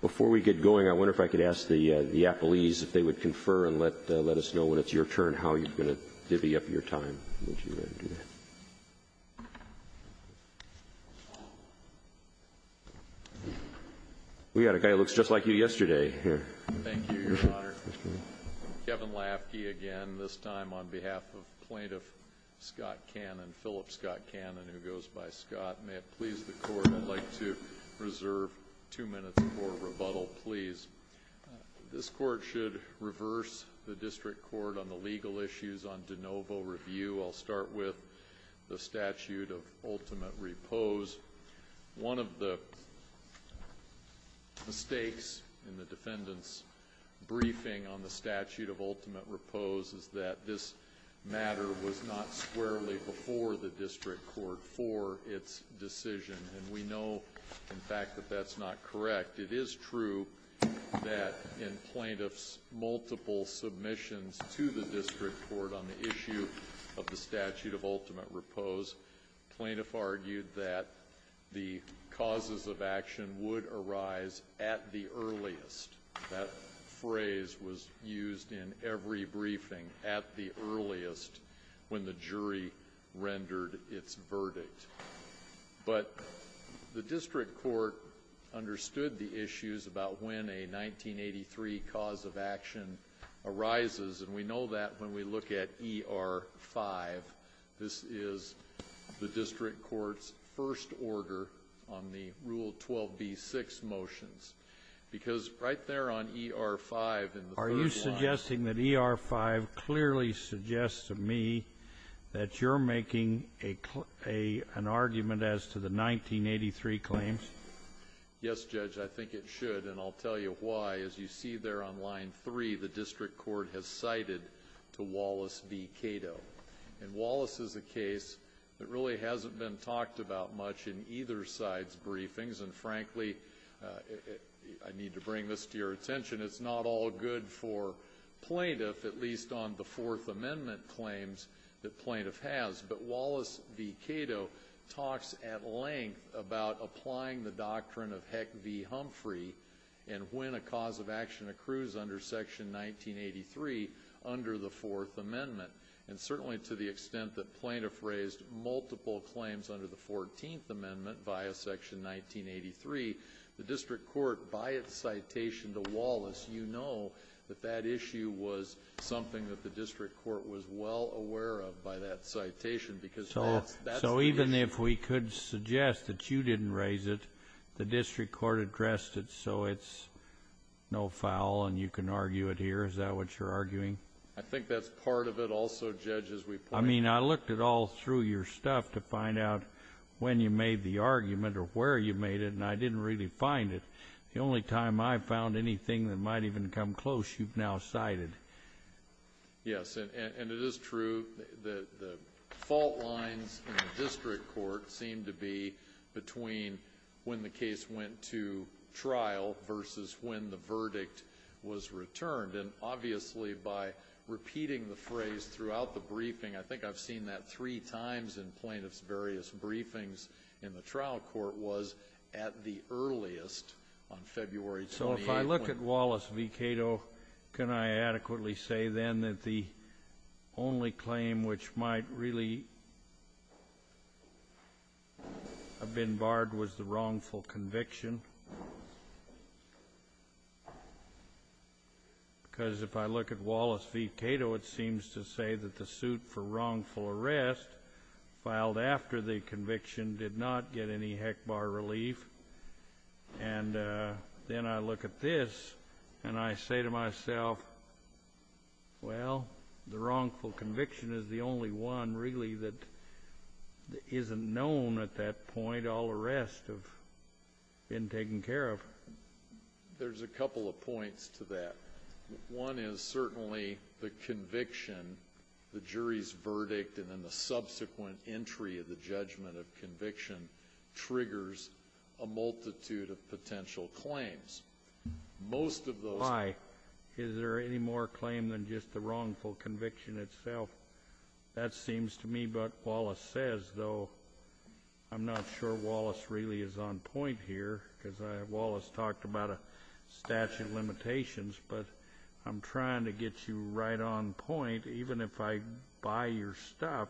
Before we get going, I wonder if I could ask the appellees if they would confer and let us know when it's your turn how you're going to divvy up your time. We've got a guy that looks just like you yesterday. Thank you, Your Honor. Kevin Lafkey again, this time on behalf of plaintiff Scott Cannon, Philip Scott Cannon, who goes by Scott. May it please the court, I'd like to reserve two minutes for rebuttal, please. This court should reverse the district court on the legal issues on de novo review. I'll start with the statute of ultimate repose. One of the mistakes in the defendant's briefing on the statute of ultimate repose is that this matter was not squarely before the district court for its decision. And we know, in fact, that that's not correct. It is true that in plaintiff's multiple submissions to the district court on the issue of the statute of ultimate repose, plaintiff argued that the causes of action would arise at the earliest. That phrase was used in every briefing at the earliest when the jury rendered its verdict. But the district court understood the issues about when a 1983 cause of action arises, and we know that when we look at ER-5. This is the district court's first order on the Rule 12b-6 motions. Because right there on ER-5 in the third line. Are you suggesting that ER-5 clearly suggests to me that you're making an argument as to the 1983 claims? Yes, Judge, I think it should, and I'll tell you why. As you see there on line three, the district court has cited to Wallace v. Cato. And Wallace is a case that really hasn't been talked about much in either side's briefings. And frankly, I need to bring this to your attention, it's not all good for plaintiff, at least on the Fourth Amendment claims that plaintiff has. But Wallace v. Cato talks at length about applying the doctrine of Heck v. Humphrey and when a cause of action accrues under Section 1983 under the Fourth Amendment. And certainly to the extent that plaintiff raised multiple claims under the Fourteenth Amendment via Section 1983. The district court, by its citation to Wallace, you know that that issue was something that the district court was well aware of by that citation. So even if we could suggest that you didn't raise it, the district court addressed it so it's no foul and you can argue it here. Is that what you're arguing? I think that's part of it also, Judge, as we point out. I mean, I looked it all through your stuff to find out when you made the argument or where you made it, and I didn't really find it. The only time I found anything that might even come close, you've now cited. Yes, and it is true that the fault lines in the district court seem to be between when the case went to trial versus when the verdict was returned. And obviously by repeating the phrase throughout the briefing, I think I've seen that three times in plaintiffs' various briefings in the trial court, was at the earliest on February 28. If I look at Wallace v. Cato, can I adequately say then that the only claim which might really have been barred was the wrongful conviction? Because if I look at Wallace v. Cato, it seems to say that the suit for wrongful arrest filed after the conviction did not get any HECBAR relief. And then I look at this and I say to myself, well, the wrongful conviction is the only one really that isn't known at that point. All the rest have been taken care of. There's a couple of points to that. One is certainly the conviction, the jury's verdict, and then the subsequent entry of the judgment of conviction triggers a multitude of potential claims. Most of those— Why? Is there any more claim than just the wrongful conviction itself? That seems to me what Wallace says, though I'm not sure Wallace really is on point here, because Wallace talked about a statute of limitations. But I'm trying to get you right on point. Even if I buy your stuff,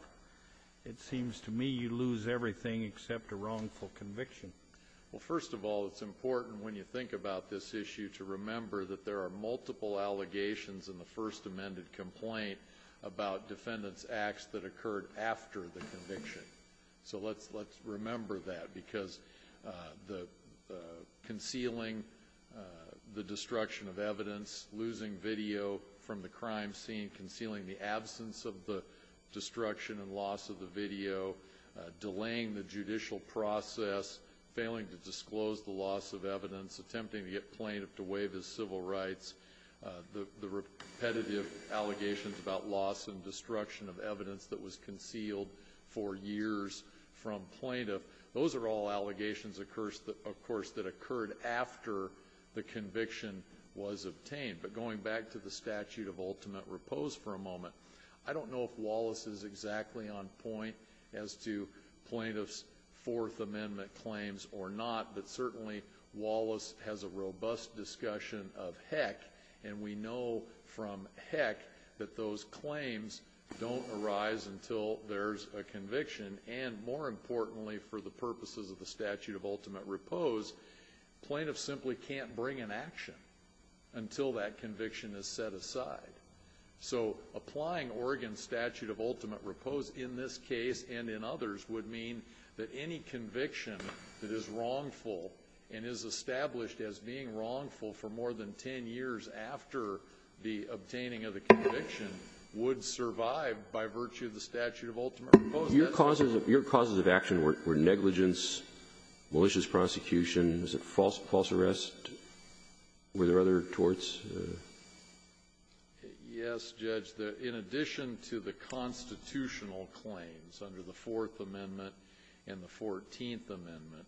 it seems to me you lose everything except a wrongful conviction. Well, first of all, it's important when you think about this issue to remember that there are multiple allegations in the First Amendment complaint about defendants' acts that occurred after the conviction. So let's remember that, because concealing the destruction of evidence, losing video from the crime scene, concealing the absence of the destruction and loss of the video, delaying the judicial process, failing to disclose the loss of evidence, attempting to get plaintiff to waive his civil rights, the repetitive allegations about loss and destruction of evidence that was concealed for years from plaintiff, those are all allegations, of course, that occurred after the conviction was obtained. But going back to the statute of ultimate repose for a moment, I don't know if Wallace is exactly on point as to plaintiff's Fourth Amendment claims or not, but certainly Wallace has a robust discussion of heck, and we know from heck that those claims don't arise until there's a conviction. And more importantly, for the purposes of the statute of ultimate repose, plaintiff simply can't bring an action until that conviction is set aside. So applying Oregon's statute of ultimate repose in this case and in others would mean that any conviction that is wrongful and is established as being wrongful for more than 10 years after the obtaining of the conviction would survive by virtue of the statute of ultimate repose. Your causes of action were negligence, malicious prosecution, was it false arrest? Were there other torts? Yes, Judge. In addition to the constitutional claims under the Fourth Amendment and the Fourteenth Amendment,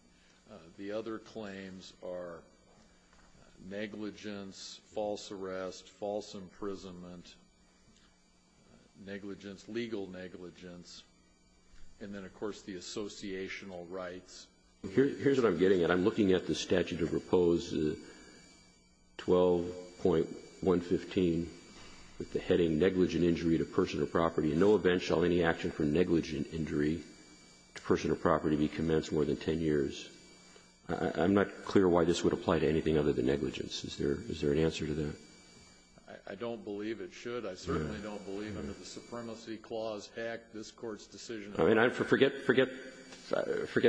the other claims are negligence, false arrest, false imprisonment, negligence, legal negligence, and then, of course, the associational rights. Here's what I'm getting at. I'm looking at the statute of repose, 12.115, with the heading negligent injury to person or property. In no event shall any action for negligent injury to person or property be commenced more than 10 years. I'm not clear why this would apply to anything other than negligence. Is there an answer to that? I don't believe it should. I certainly don't believe under the Supremacy Clause, heck, this Court's decision on that. I mean, forget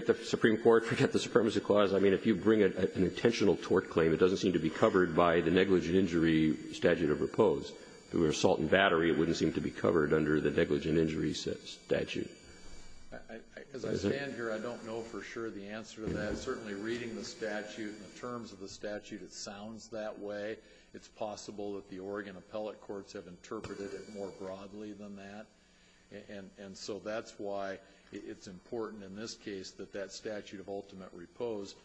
the Supreme Court, forget the Supremacy Clause. I mean, if you bring an intentional tort claim, it doesn't seem to be covered by the negligent injury statute of repose. If it were assault and battery, it wouldn't seem to be covered under the negligent injury statute. As I stand here, I don't know for sure the answer to that. Certainly reading the statute and the terms of the statute, it sounds that way. It's possible that the Oregon appellate courts have interpreted it more broadly than that. And so that's why it's important in this case that that statute of ultimate repose,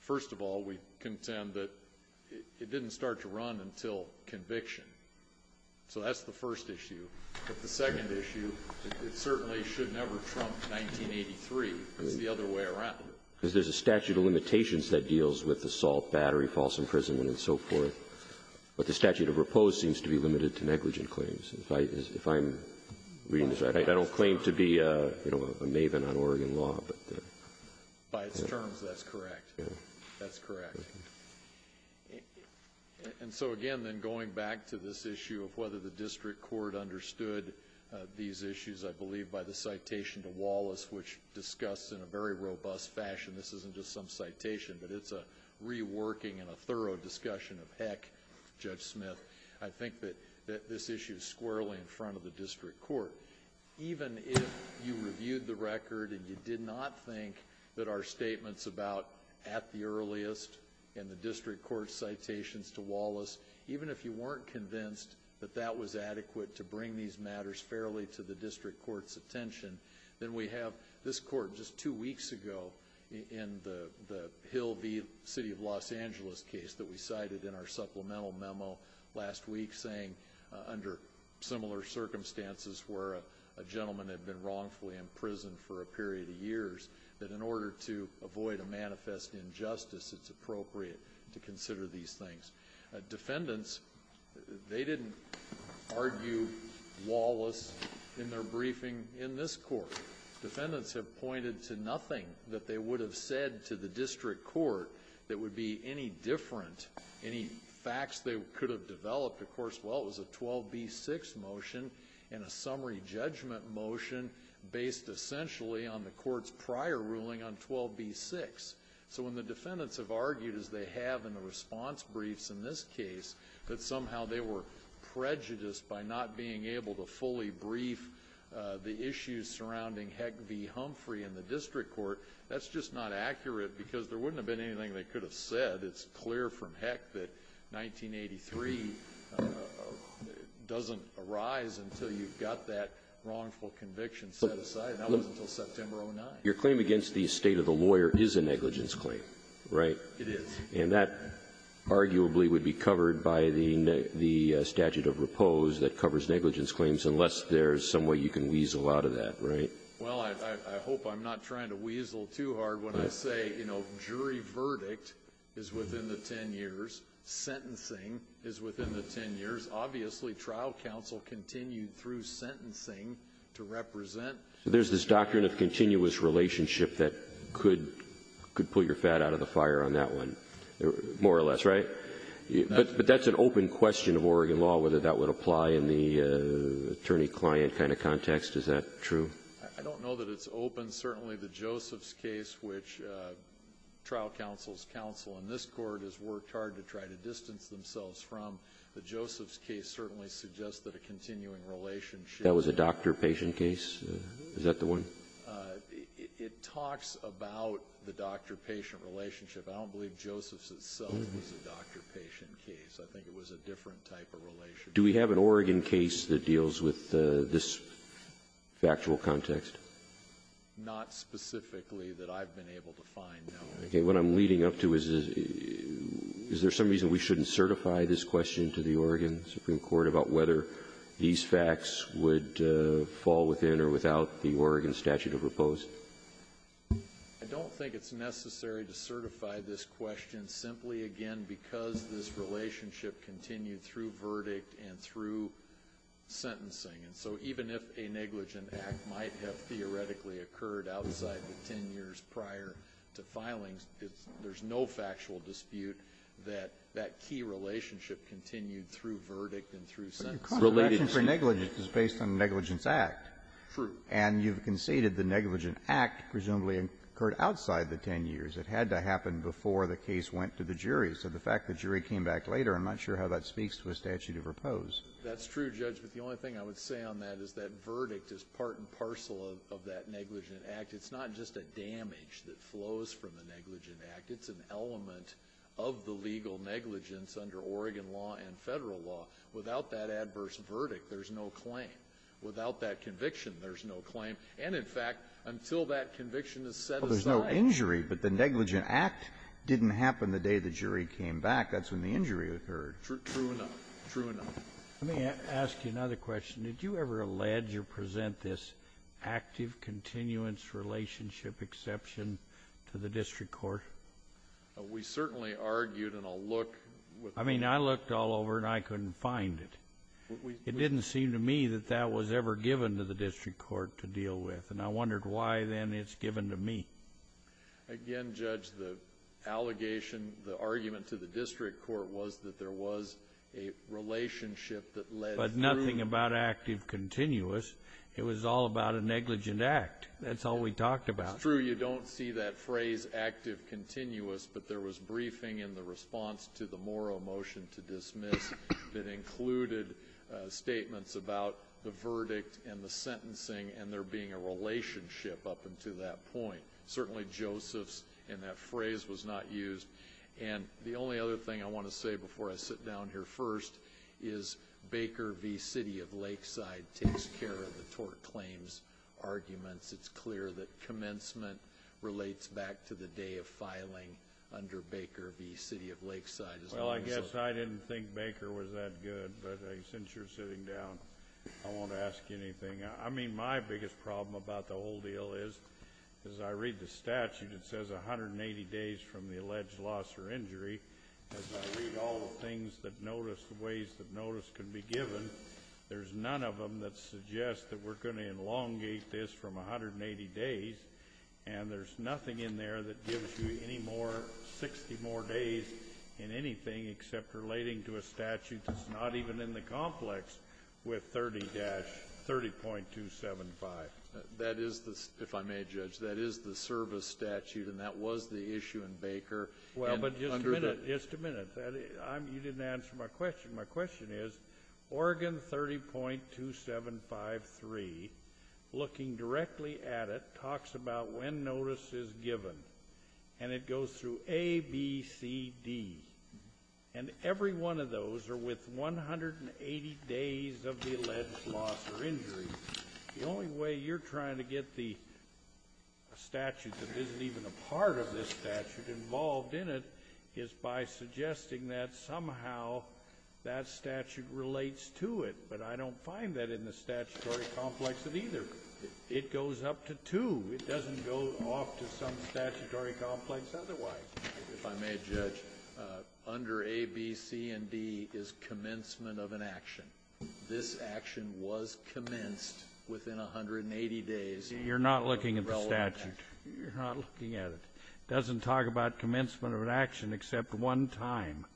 first of all, we contend that it didn't start to run until conviction. So that's the first issue. But the second issue, it certainly should never trump 1983. It's the other way around. Because there's a statute of limitations that deals with assault, battery, false imprisonment, and so forth. But the statute of repose seems to be limited to negligent claims. If I'm reading this right, I don't claim to be a maven on Oregon law. By its terms, that's correct. That's correct. And so again, then going back to this issue of whether the district court understood these issues, I believe by the citation to Wallace, which discussed in a very robust fashion, this isn't just some citation, but it's a reworking and a thorough discussion of, heck, Judge Smith. I think that this issue is squarely in front of the district court. Even if you reviewed the record and you did not think that our statements about at the earliest and the district court's citations to Wallace, even if you weren't convinced that that was adequate to bring these matters fairly to the district court's attention, then we have this court just two weeks ago in the Hill v. City of Los Angeles case that we cited in our supplemental memo last week saying, under similar circumstances where a gentleman had been wrongfully imprisoned for a period of years, that in order to avoid a manifest injustice, it's appropriate to consider these things. Defendants, they didn't argue Wallace in their briefing in this court. Defendants have pointed to nothing that they would have said to the district court that would be any different, any facts they could have developed. Of course, well, it was a 12b-6 motion and a summary judgment motion based essentially on the court's prior ruling on 12b-6. So when the defendants have argued, as they have in the response briefs in this case, that somehow they were prejudiced by not being able to fully brief the issues surrounding Heck v. Humphrey in the district court, that's just not accurate because there wouldn't have been anything they could have said. It's clear from Heck that 1983 doesn't arise until you've got that wrongful conviction set aside, and that was until September 09. Your claim against the estate of the lawyer is a negligence claim, right? It is. And that arguably would be covered by the statute of repose that covers negligence claims unless there's some way you can weasel out of that, right? Well, I hope I'm not trying to weasel too hard when I say, you know, jury verdict is within the 10 years. Sentencing is within the 10 years. Obviously, trial counsel continued through sentencing to represent. So there's this doctrine of continuous relationship that could pull your fat out of the fire on that one, more or less, right? But that's an open question of Oregon law, whether that would apply in the attorney-client kind of context. Is that true? I don't know that it's open. Certainly the Josephs case, which trial counsel's counsel in this court has worked hard to try to distance themselves from, the Josephs case certainly suggests that a continuing relationship. That was a doctor-patient case? Is that the one? It talks about the doctor-patient relationship. I don't believe Josephs itself was a doctor-patient case. I think it was a different type of relationship. Do we have an Oregon case that deals with this factual context? Not specifically that I've been able to find, no. Okay. What I'm leading up to is, is there some reason we shouldn't certify this question to the Oregon Supreme Court about whether these facts would fall within or without the Oregon statute of repose? I don't think it's necessary to certify this question simply, again, because this relationship continued through verdict and through sentencing. And so even if a negligent act might have theoretically occurred outside the 10 years prior to filings, there's no factual dispute that that key relationship continued through verdict and through sentencing. But your caution for negligence is based on negligence act. True. And you've conceded the negligent act presumably occurred outside the 10 years. It had to happen before the case went to the jury. So the fact the jury came back later, I'm not sure how that speaks to a statute of repose. That's true, Judge. But the only thing I would say on that is that verdict is part and parcel of that negligent act. It's not just a damage that flows from the negligent act. It's an element of the legal negligence under Oregon law and federal law. Without that adverse verdict, there's no claim. Without that conviction, there's no claim. And, in fact, until that conviction is set aside. Well, there's no injury, but the negligent act didn't happen the day the jury came back. That's when the injury occurred. True enough. True enough. Let me ask you another question. Did you ever allege or present this active continuance relationship exception to the district court? We certainly argued and I'll look. I mean, I looked all over and I couldn't find it. It didn't seem to me that that was ever given to the district court to deal with. And I wondered why, then, it's given to me. Again, Judge, the allegation, the argument to the district court was that there was a relationship that led through. But nothing about active continuance. It was all about a negligent act. That's all we talked about. It's true. You don't see that phrase active continuance, but there was briefing in the response to the Morrow motion to dismiss that included statements about the verdict and the sentencing and there being a relationship up until that point. Certainly, Joseph's in that phrase was not used. And the only other thing I want to say before I sit down here first is Baker v. City of Lakeside takes care of the tort claims arguments. It's clear that commencement relates back to the day of filing under Baker v. City of Lakeside. Well, I guess I didn't think Baker was that good, but since you're sitting down, I won't ask you anything. I mean, my biggest problem about the whole deal is, as I read the statute, it says 180 days from the alleged loss or injury. As I read all the things that notice, the ways that notice can be given, there's none of them that suggest that we're going to elongate this from 180 days, and there's nothing in there that gives you any more, 60 more days in anything except relating to a statute that's not even in the complex with 30 dash, 30.275. That is the, if I may judge, that is the service statute, and that was the issue in Baker. Well, but just a minute, just a minute. You didn't answer my question. My question is, Oregon 30.2753, looking directly at it, talks about when notice is given, and it goes through A, B, C, D, and every one of those are with 180 days of the alleged loss or injury. The only way you're trying to get the statute that isn't even a part of this statute involved in it is by suggesting that somehow that statute relates to it, but I don't find that in the statutory complex of either. It goes up to two. It doesn't go off to some statutory complex otherwise. If I may judge, under A, B, C, and D is commencement of an action. This action was commenced within 180 days. You're not looking at the statute. You're not looking at it. It doesn't talk about commencement of an action except one time.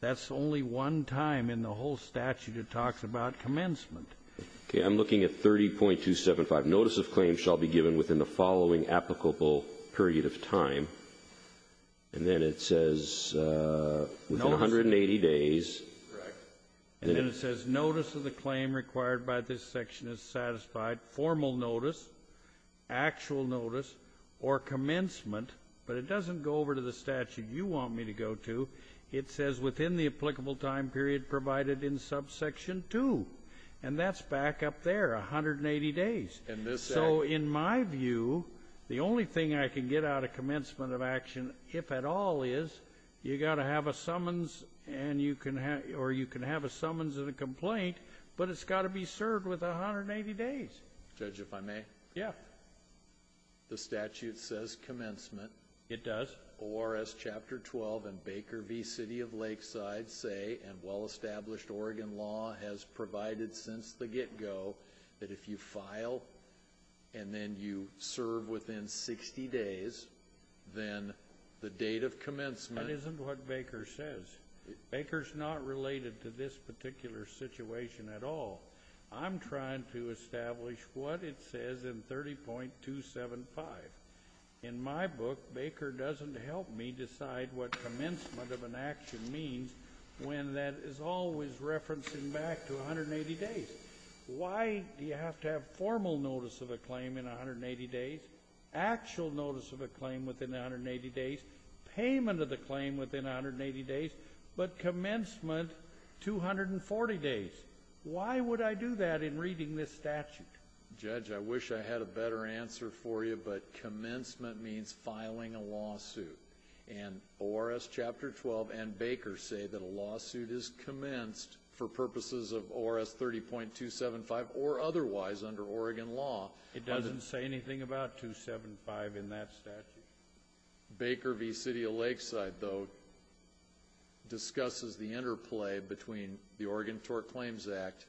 That's only one time in the whole statute it talks about commencement. Okay, I'm looking at 30.275. Notice of claim shall be given within the following applicable period of time. And then it says within 180 days. Correct. And then it says notice of the claim required by this section is satisfied. Formal notice, actual notice, or commencement, but it doesn't go over to the statute you want me to go to. It says within the applicable time period provided in subsection 2, and that's back up there, 180 days. So in my view, the only thing I can get out of commencement of action, if at all, is you've got to have a summons or you can have a summons and a complaint, but it's got to be served within 180 days. Judge, if I may? Yeah. The statute says commencement. It does. Or as Chapter 12 and Baker v. City of Lakeside say, and well-established Oregon law has provided since the get-go, that if you file and then you serve within 60 days, then the date of commencement isn't what Baker says. Baker's not related to this particular situation at all. I'm trying to establish what it says in 30.275. In my book, Baker doesn't help me decide what commencement of an action means when that is always referencing back to 180 days. Why do you have to have formal notice of a claim in 180 days, actual notice of a claim within 180 days, payment of the claim within 180 days, but commencement 240 days? Why would I do that in reading this statute? Judge, I wish I had a better answer for you, but commencement means filing a lawsuit. And ORS Chapter 12 and Baker say that a lawsuit is commenced for purposes of ORS 30.275 or otherwise under Oregon law. It doesn't say anything about 275 in that statute. Baker v. City of Lakeside, though, discusses the interplay between the Oregon Tort Claims Act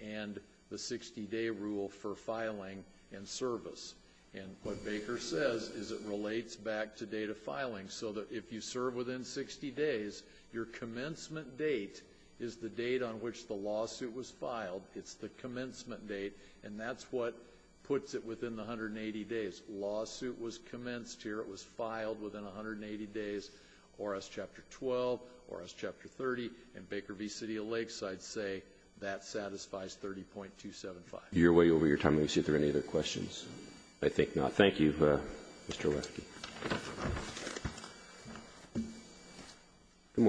and the 60-day rule for filing and service. And what Baker says is it relates back to date of filing, so that if you serve within 60 days, your commencement date is the date on which the lawsuit was filed. It's the commencement date, and that's what puts it within the 180 days. Lawsuit was commenced here. It was filed within 180 days. ORS Chapter 12, ORS Chapter 30, and Baker v. City of Lakeside say that satisfies 30.275. You're way over your time. Let me see if there are any other questions. I think not. Good morning. Good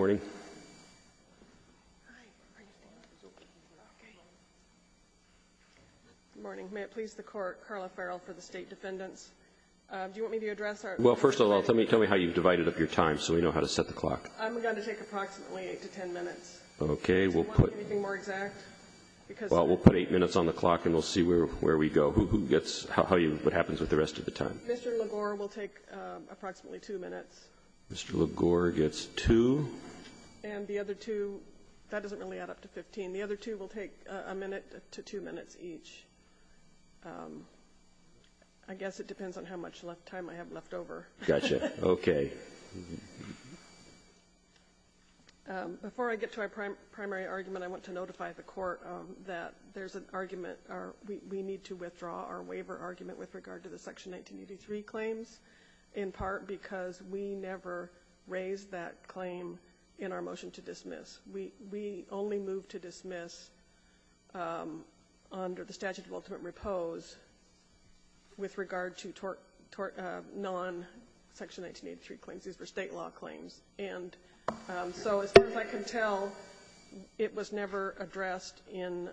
morning. May it please the Court, Carla Farrell for the State Defendants. Do you want me to address our? Well, first of all, tell me how you've divided up your time so we know how to set the clock. I'm going to take approximately 8 to 10 minutes. Okay. Do you want anything more exact? Well, we'll put 8 minutes on the clock, and we'll see where we go, who gets, how you, what happens with the rest of the time. Mr. LaGore will take approximately 2 minutes. Mr. LaGore gets 2. And the other 2, that doesn't really add up to 15. The other 2 will take a minute to 2 minutes each. I guess it depends on how much time I have left over. Gotcha. Okay. Before I get to our primary argument, I want to notify the Court that there's an argument, we need to withdraw our waiver argument with regard to the Section 1983 claims, in part because we never raised that claim in our motion to dismiss. We only moved to dismiss under the statute of ultimate repose with regard to non-Section 1983 claims. These were state law claims. And so as far as I can tell, it was never addressed in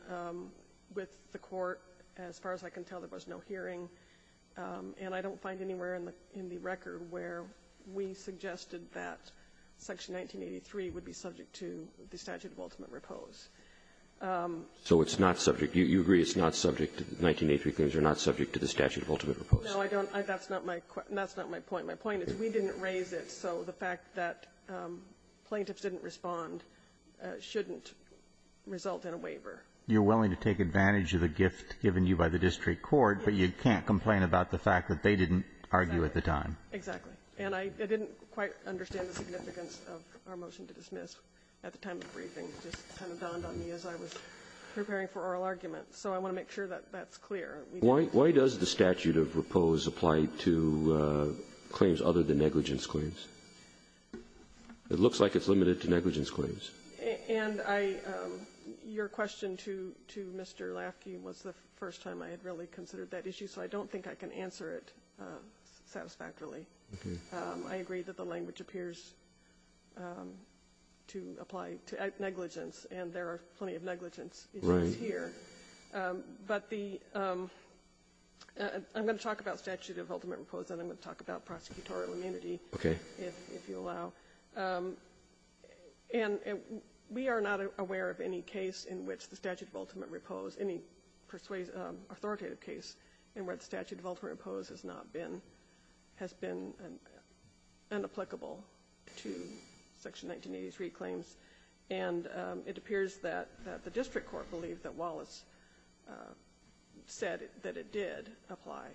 the court. As far as I can tell, there was no hearing. And I don't find anywhere in the record where we suggested that Section 1983 would be subject to the statute of ultimate repose. So it's not subject. You agree it's not subject, 1983 claims are not subject to the statute of ultimate repose. No, I don't. That's not my point. My point is we didn't raise it, so the fact that plaintiffs didn't respond shouldn't result in a waiver. You're willing to take advantage of the gift given you by the district court, but you can't complain about the fact that they didn't argue at the time. Exactly. And I didn't quite understand the significance of our motion to dismiss at the time of the briefing. It just kind of dawned on me as I was preparing for oral argument. So I want to make sure that that's clear. Why does the statute of repose apply to claims other than negligence claims? It looks like it's limited to negligence claims. And I – your question to Mr. Lafke was the first time I had really considered that issue, so I don't think I can answer it satisfactorily. Okay. I agree that the language appears to apply to negligence, and there are plenty of negligence issues here. Right. But the – I'm going to talk about statute of ultimate repose, and I'm going to talk about prosecutorial immunity. Okay. If you allow. And we are not aware of any case in which the statute of ultimate repose – any authoritative case in which the statute of ultimate repose has not been – has been unapplicable to Section 1983 claims. And it appears that the district court believed that Wallace said that it did apply.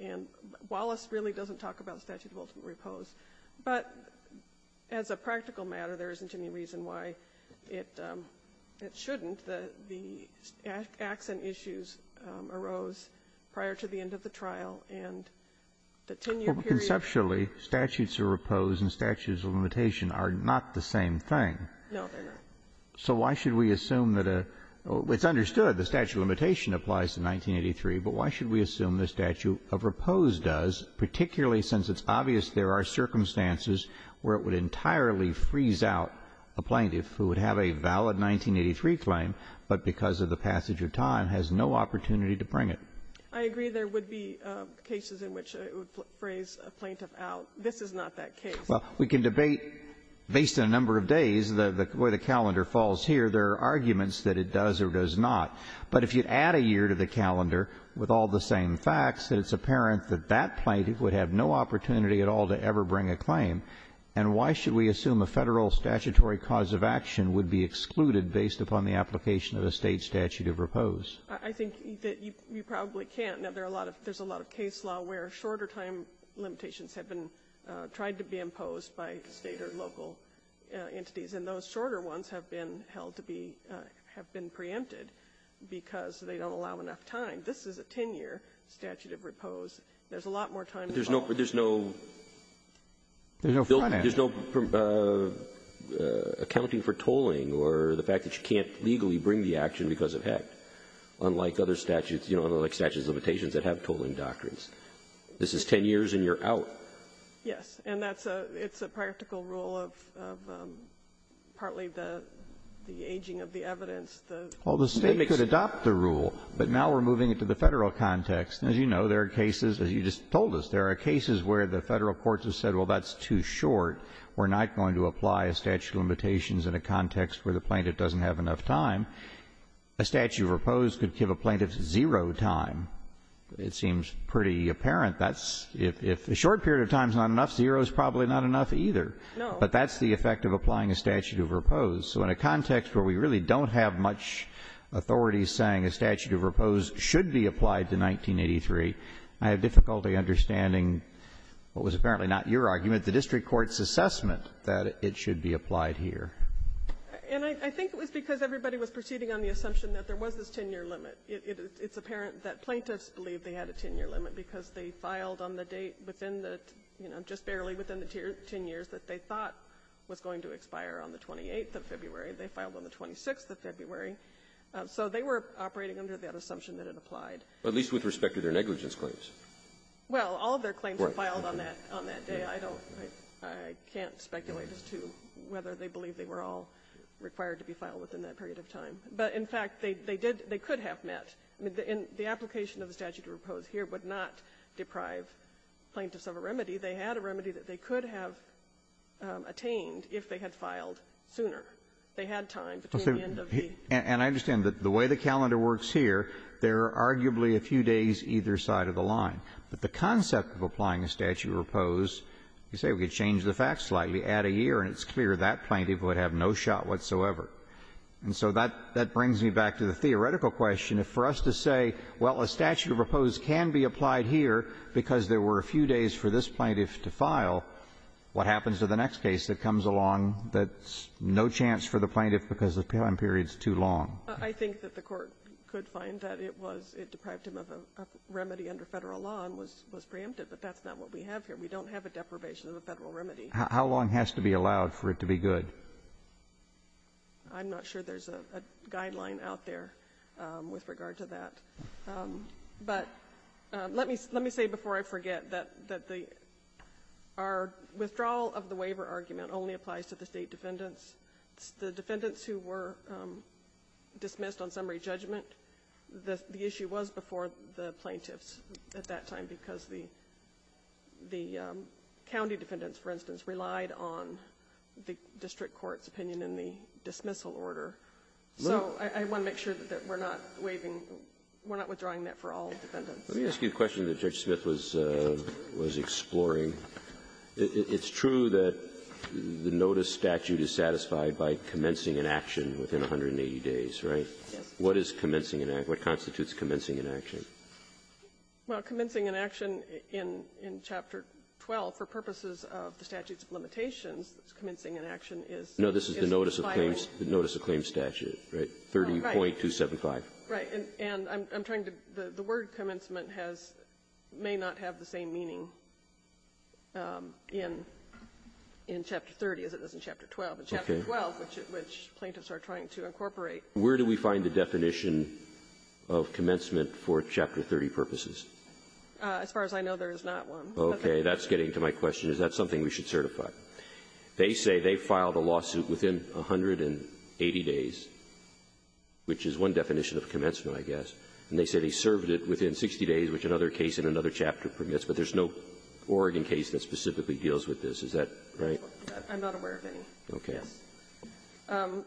And Wallace really doesn't talk about statute of ultimate repose. But as a practical matter, there isn't any reason why it shouldn't. The accent issues arose prior to the end of the trial, and the 10-year period – No, they're not. So why should we assume that a – it's understood. The statute of limitation applies to 1983, but why should we assume the statute of repose does, particularly since it's obvious there are circumstances where it would entirely freeze out a plaintiff who would have a valid 1983 claim, but because of the passage of time has no opportunity to bring it? I agree there would be cases in which it would freeze a plaintiff out. This is not that case. Well, we can debate based on a number of days where the calendar falls here. There are arguments that it does or does not. But if you add a year to the calendar with all the same facts, then it's apparent that that plaintiff would have no opportunity at all to ever bring a claim. And why should we assume a Federal statutory cause of action would be excluded based upon the application of a State statute of repose? I think that you probably can't. Now, there are a lot of – there's a lot of case law where shorter time limitations have been tried to be imposed by State or local entities, and those shorter ones have been held to be – have been preempted because they don't allow enough time. This is a 10-year statute of repose. There's a lot more time involved. There's no – there's no accounting for tolling or the fact that you can't legally bring the action because of HECT, unlike other statutes, you know, like statute of limitations that have tolling doctrines. This is 10 years and you're out. Yes. And that's a – it's a practical rule of partly the aging of the evidence. Well, the State could adopt the rule, but now we're moving it to the Federal context. As you know, there are cases, as you just told us, there are cases where the Federal courts have said, well, that's too short. We're not going to apply a statute of limitations in a context where the plaintiff doesn't have enough time. A statute of repose could give a plaintiff zero time. It seems pretty apparent that if a short period of time is not enough, zero is probably not enough either. No. But that's the effect of applying a statute of repose. So in a context where we really don't have much authority saying a statute of repose should be applied to 1983, I have difficulty understanding what was apparently not your argument, the district court's assessment that it should be applied here. And I think it was because everybody was proceeding on the assumption that there was this 10-year limit. It's apparent that plaintiffs believed they had a 10-year limit because they filed on the date within the, you know, just barely within the 10 years that they thought was going to expire on the 28th of February. They filed on the 26th of February. So they were operating under that assumption that it applied. At least with respect to their negligence claims. Well, all of their claims were filed on that day. I don't know. I can't speculate as to whether they believed they were all required to be filed within that period of time. But, in fact, they did they could have met. I mean, the application of the statute of repose here would not deprive plaintiffs of a remedy. They had a remedy that they could have attained if they had filed sooner. They had time between the end of the year. And I understand that the way the calendar works here, there are arguably a few days either side of the line. But the concept of applying a statute of repose, you say we could change the facts slightly, add a year, and it's clear that plaintiff would have no shot whatsoever. And so that brings me back to the theoretical question. If for us to say, well, a statute of repose can be applied here because there were a few days for this plaintiff to file, what happens to the next case that comes along that's no chance for the plaintiff because the time period is too long? I think that the Court could find that it was — it deprived him of a remedy under Federal law and was preempted. But that's not what we have here. We don't have a deprivation of a Federal remedy. How long has to be allowed for it to be good? I'm not sure there's a guideline out there with regard to that. But let me say before I forget that the — our withdrawal of the waiver argument only applies to the State defendants. The defendants who were dismissed on summary judgment, the issue was before the plaintiffs at that time because the county defendants, for instance, relied on the district court's opinion in the dismissal order. So I want to make sure that we're not waiving — we're not withdrawing that for all defendants. Let me ask you a question that Judge Smith was exploring. It's true that the notice statute is satisfied by commencing an action within 180 days, right? Yes. What is commencing an act? What constitutes commencing an action? Well, commencing an action in Chapter 12, for purposes of the statutes of limitations, commencing an action is — No, this is the notice of claims statute, right? 30.275. Right. And I'm trying to — the word commencement has — may not have the same meaning in Chapter 30 as it does in Chapter 12. Okay. In Chapter 12, which plaintiffs are trying to incorporate. Where do we find the definition of commencement for Chapter 30 purposes? As far as I know, there is not one. Okay. That's getting to my question. Is that something we should certify? They say they filed a lawsuit within 180 days, which is one definition of commencement, I guess. And they said he served it within 60 days, which another case in another chapter permits. But there's no Oregon case that specifically deals with this. Is that right? I'm not aware of any. Okay. Yes.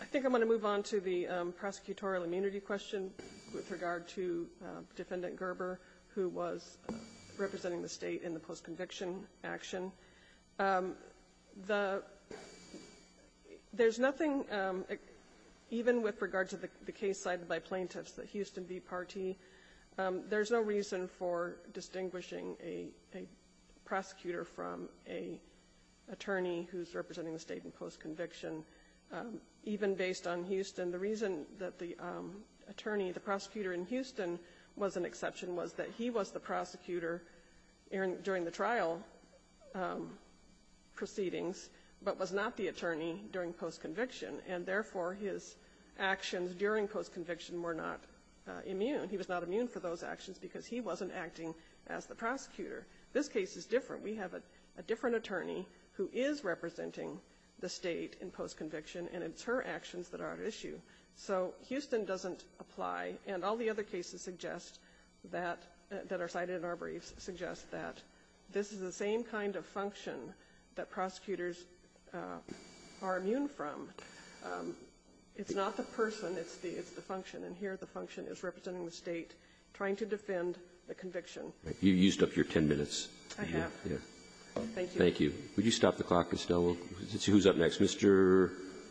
I think I'm going to move on to the prosecutorial immunity question with regard to Defendant Gerber, who was representing the state in the post-conviction action. The — there's nothing — even with regard to the case cited by plaintiffs, the Houston v. Partee, there's no reason for distinguishing a prosecutor from an attorney during post-conviction, even based on Houston. The reason that the attorney, the prosecutor in Houston, was an exception was that he was the prosecutor during the trial proceedings, but was not the attorney during post-conviction. And therefore, his actions during post-conviction were not immune. He was not immune for those actions because he wasn't acting as the prosecutor. This case is different. We have a different attorney who is representing the state in post-conviction, and it's her actions that are at issue. So Houston doesn't apply. And all the other cases suggest that — that are cited in our briefs suggest that this is the same kind of function that prosecutors are immune from. It's not the person. It's the — it's the function. And here, the function is representing the state, trying to defend the conviction. You used up your 10 minutes. I have. Yeah. Thank you. Thank you. Would you stop the clock, Estelle? We'll see who's up next. Mr.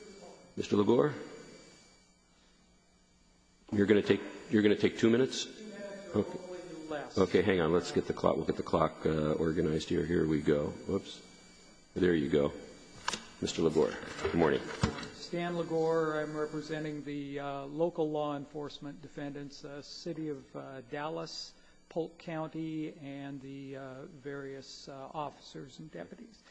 — Mr. LaGore? You're going to take — you're going to take two minutes? Two minutes, or hopefully less. Okay. Hang on. Let's get the clock. We'll get the clock organized here. Here we go. Oops. There you go. Mr. LaGore. Good morning. Stan LaGore. I'm representing the local law enforcement defendants, the city of Dallas, Polk County, and the various officers and deputies.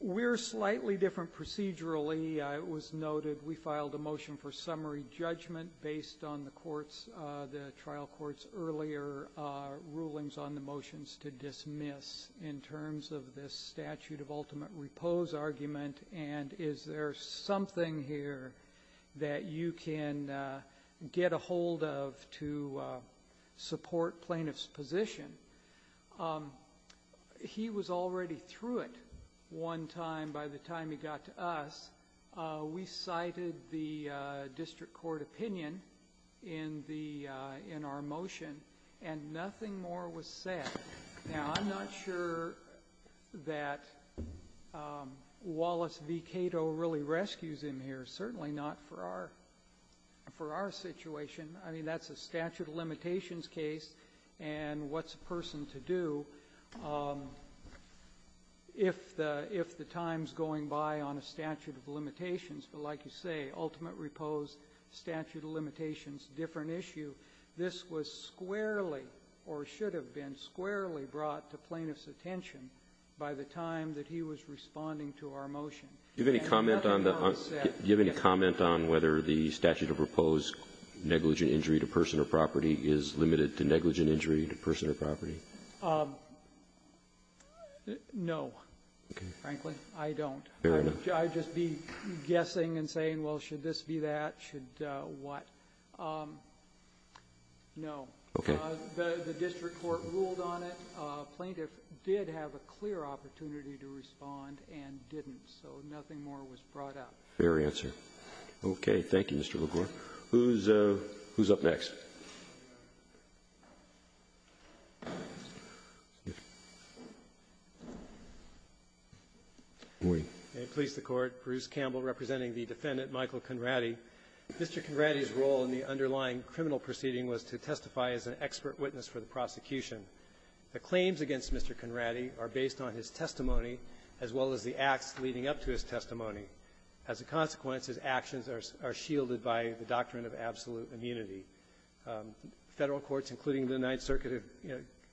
We're slightly different procedurally. It was noted we filed a motion for summary judgment based on the court's — the trial court's earlier rulings on the motions to dismiss in terms of this statute of ultimate repose argument. And is there something here that you can get a hold of to support plaintiff's position? He was already through it one time by the time he got to us. We cited the district court opinion in the — in our motion, and nothing more was said. Now, I'm not sure that Wallace v. Cato really rescues him here. Certainly not for our — for our situation. I mean, that's a statute of limitations case. And what's a person to do if the — if the time's going by on a statute of limitations? But like you say, ultimate repose, statute of limitations, different issue. This was squarely, or should have been squarely brought to plaintiff's attention by the time that he was responding to our motion. And nothing more was said. Do you have any comment on the — do you have any comment on whether the statute of repose negligent injury to person or property is limited to negligent injury to person or property? No, frankly. I don't. I'd just be guessing and saying, well, should this be that? Should what? No. Okay. The district court ruled on it. Plaintiff did have a clear opportunity to respond and didn't. So nothing more was brought up. Fair answer. Okay. Thank you, Mr. LaGuardia. Who's — who's up next? Good morning. May it please the Court. Bruce Campbell representing the defendant, Michael Conradi. Mr. Conradi's role in the underlying criminal proceeding was to testify as an expert witness for the prosecution. The claims against Mr. Conradi are based on his testimony, as well as the acts leading up to his testimony. As a consequence, his actions are shielded by the doctrine of absolute immunity. Federal courts, including the Ninth Circuit —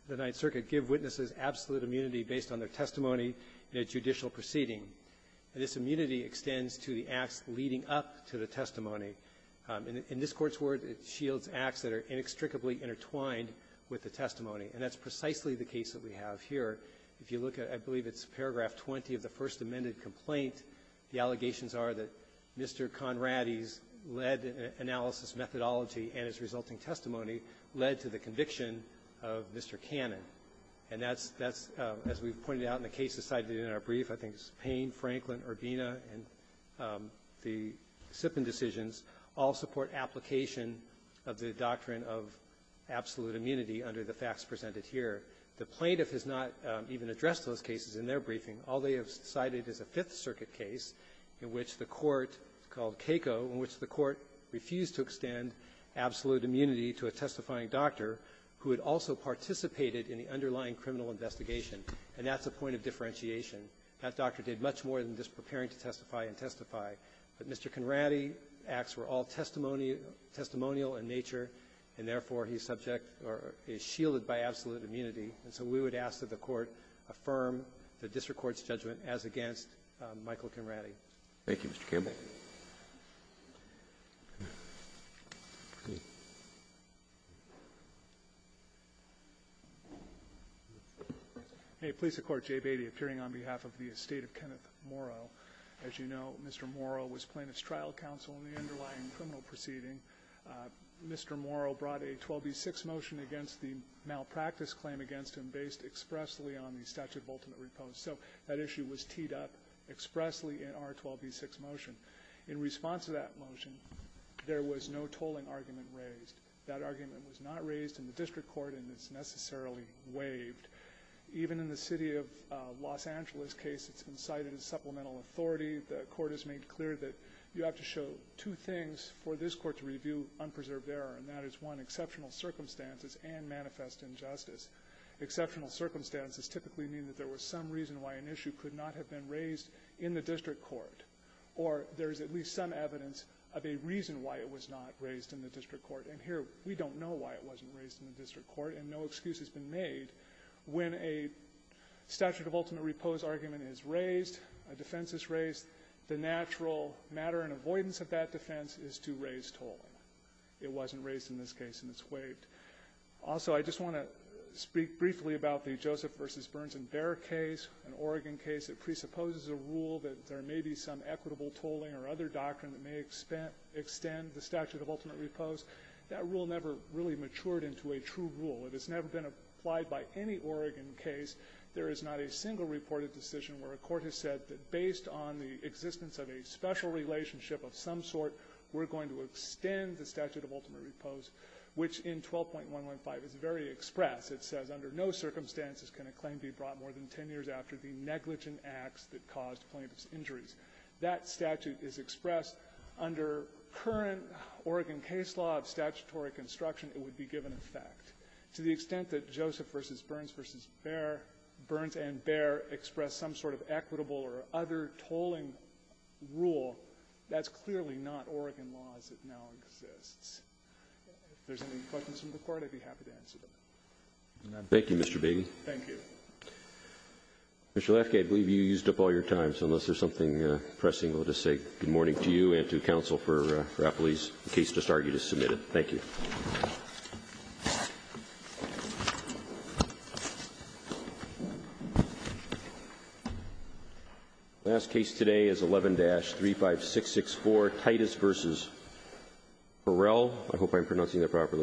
the Ninth Circuit give witnesses absolute immunity based on their testimony in a judicial proceeding. This immunity extends to the acts leading up to the testimony. In this Court's word, it shields acts that are inextricably intertwined with the testimony. And that's precisely the case that we have here. If you look at — I believe it's paragraph 20 of the first amended complaint, the allegations are that Mr. Conradi's lead analysis methodology and his resulting testimony led to the conviction of Mr. Cannon. And that's — as we've pointed out in the cases cited in our brief, I think it's Payne, Franklin, Urbina, and the Sippin decisions all support application of the doctrine of absolute immunity under the facts presented here. The plaintiff has not even addressed those cases in their briefing. All they have cited is a Fifth Circuit case in which the Court — it's called Keiko — in which the Court refused to extend absolute immunity to a testifying doctor who had also participated in the underlying criminal investigation. And that's a point of differentiation. That doctor did much more than just preparing to testify and testify. But Mr. Conradi's acts were all testimonial in nature, and therefore he's subject or is shielded by absolute immunity. And so we would ask that the Court affirm the district court's judgment as against Michael Conradi. Thank you, Mr. Campbell. Hey, police of court Jay Beatty appearing on behalf of the estate of Kenneth Morrow. As you know, Mr. Morrow was plaintiff's trial counsel in the underlying criminal proceeding. Mr. Morrow brought a 12B6 motion against the malpractice claim against him based expressly on the statute of ultimate repose. So that issue was teed up expressly in our 12B6 motion. In response to that motion, there was no tolling argument raised. That argument was not raised in the district court, and it's necessarily waived. Even in the city of Los Angeles case, it's incited as supplemental authority. The Court has made clear that you have to show two things for this Court to review unpreserved error, and that is, one, exceptional circumstances and manifest injustice. Exceptional circumstances typically mean that there was some reason why an issue could not have been raised in the district court, or there is at least some evidence of a reason why it was not raised in the district court. And here, we don't know why it wasn't raised in the district court, and no excuse has been made when a statute of ultimate repose argument is raised, a defense is raised, the natural matter and avoidance of that defense is to raise tolling. It wasn't raised in this case, and it's waived. Also, I just want to speak briefly about the Joseph v. Burns and Bear case, an Oregon case that presupposes a rule that there may be some equitable tolling or other doctrine that may extend the statute of ultimate repose. That rule never really matured into a true rule. It has never been applied by any Oregon case. There is not a single reported decision where a court has said that based on the existence of a special relationship of some sort, we're going to extend the statute of ultimate repose, which in 12.115 is very express. It says, under no circumstances can a claim be brought more than 10 years after the negligent acts that caused plaintiff's injuries. That statute is expressed under current Oregon case law of statutory construction, it would be given effect. To the extent that Joseph v. Burns and Bear express some sort of equitable or other tolling rule, that's clearly not Oregon law as it now exists. If there's any questions from the Court, I'd be happy to answer them. Thank you, Mr. Baby. Thank you. Mr. Lefke, I believe you used up all your time. So unless there's something pressing, we'll just say good morning to you and to counsel for Rapalese. The case just argued is submitted. Thank you. The last case today is 11-35664, Titus v. Burrell. I hope I'm pronouncing that properly.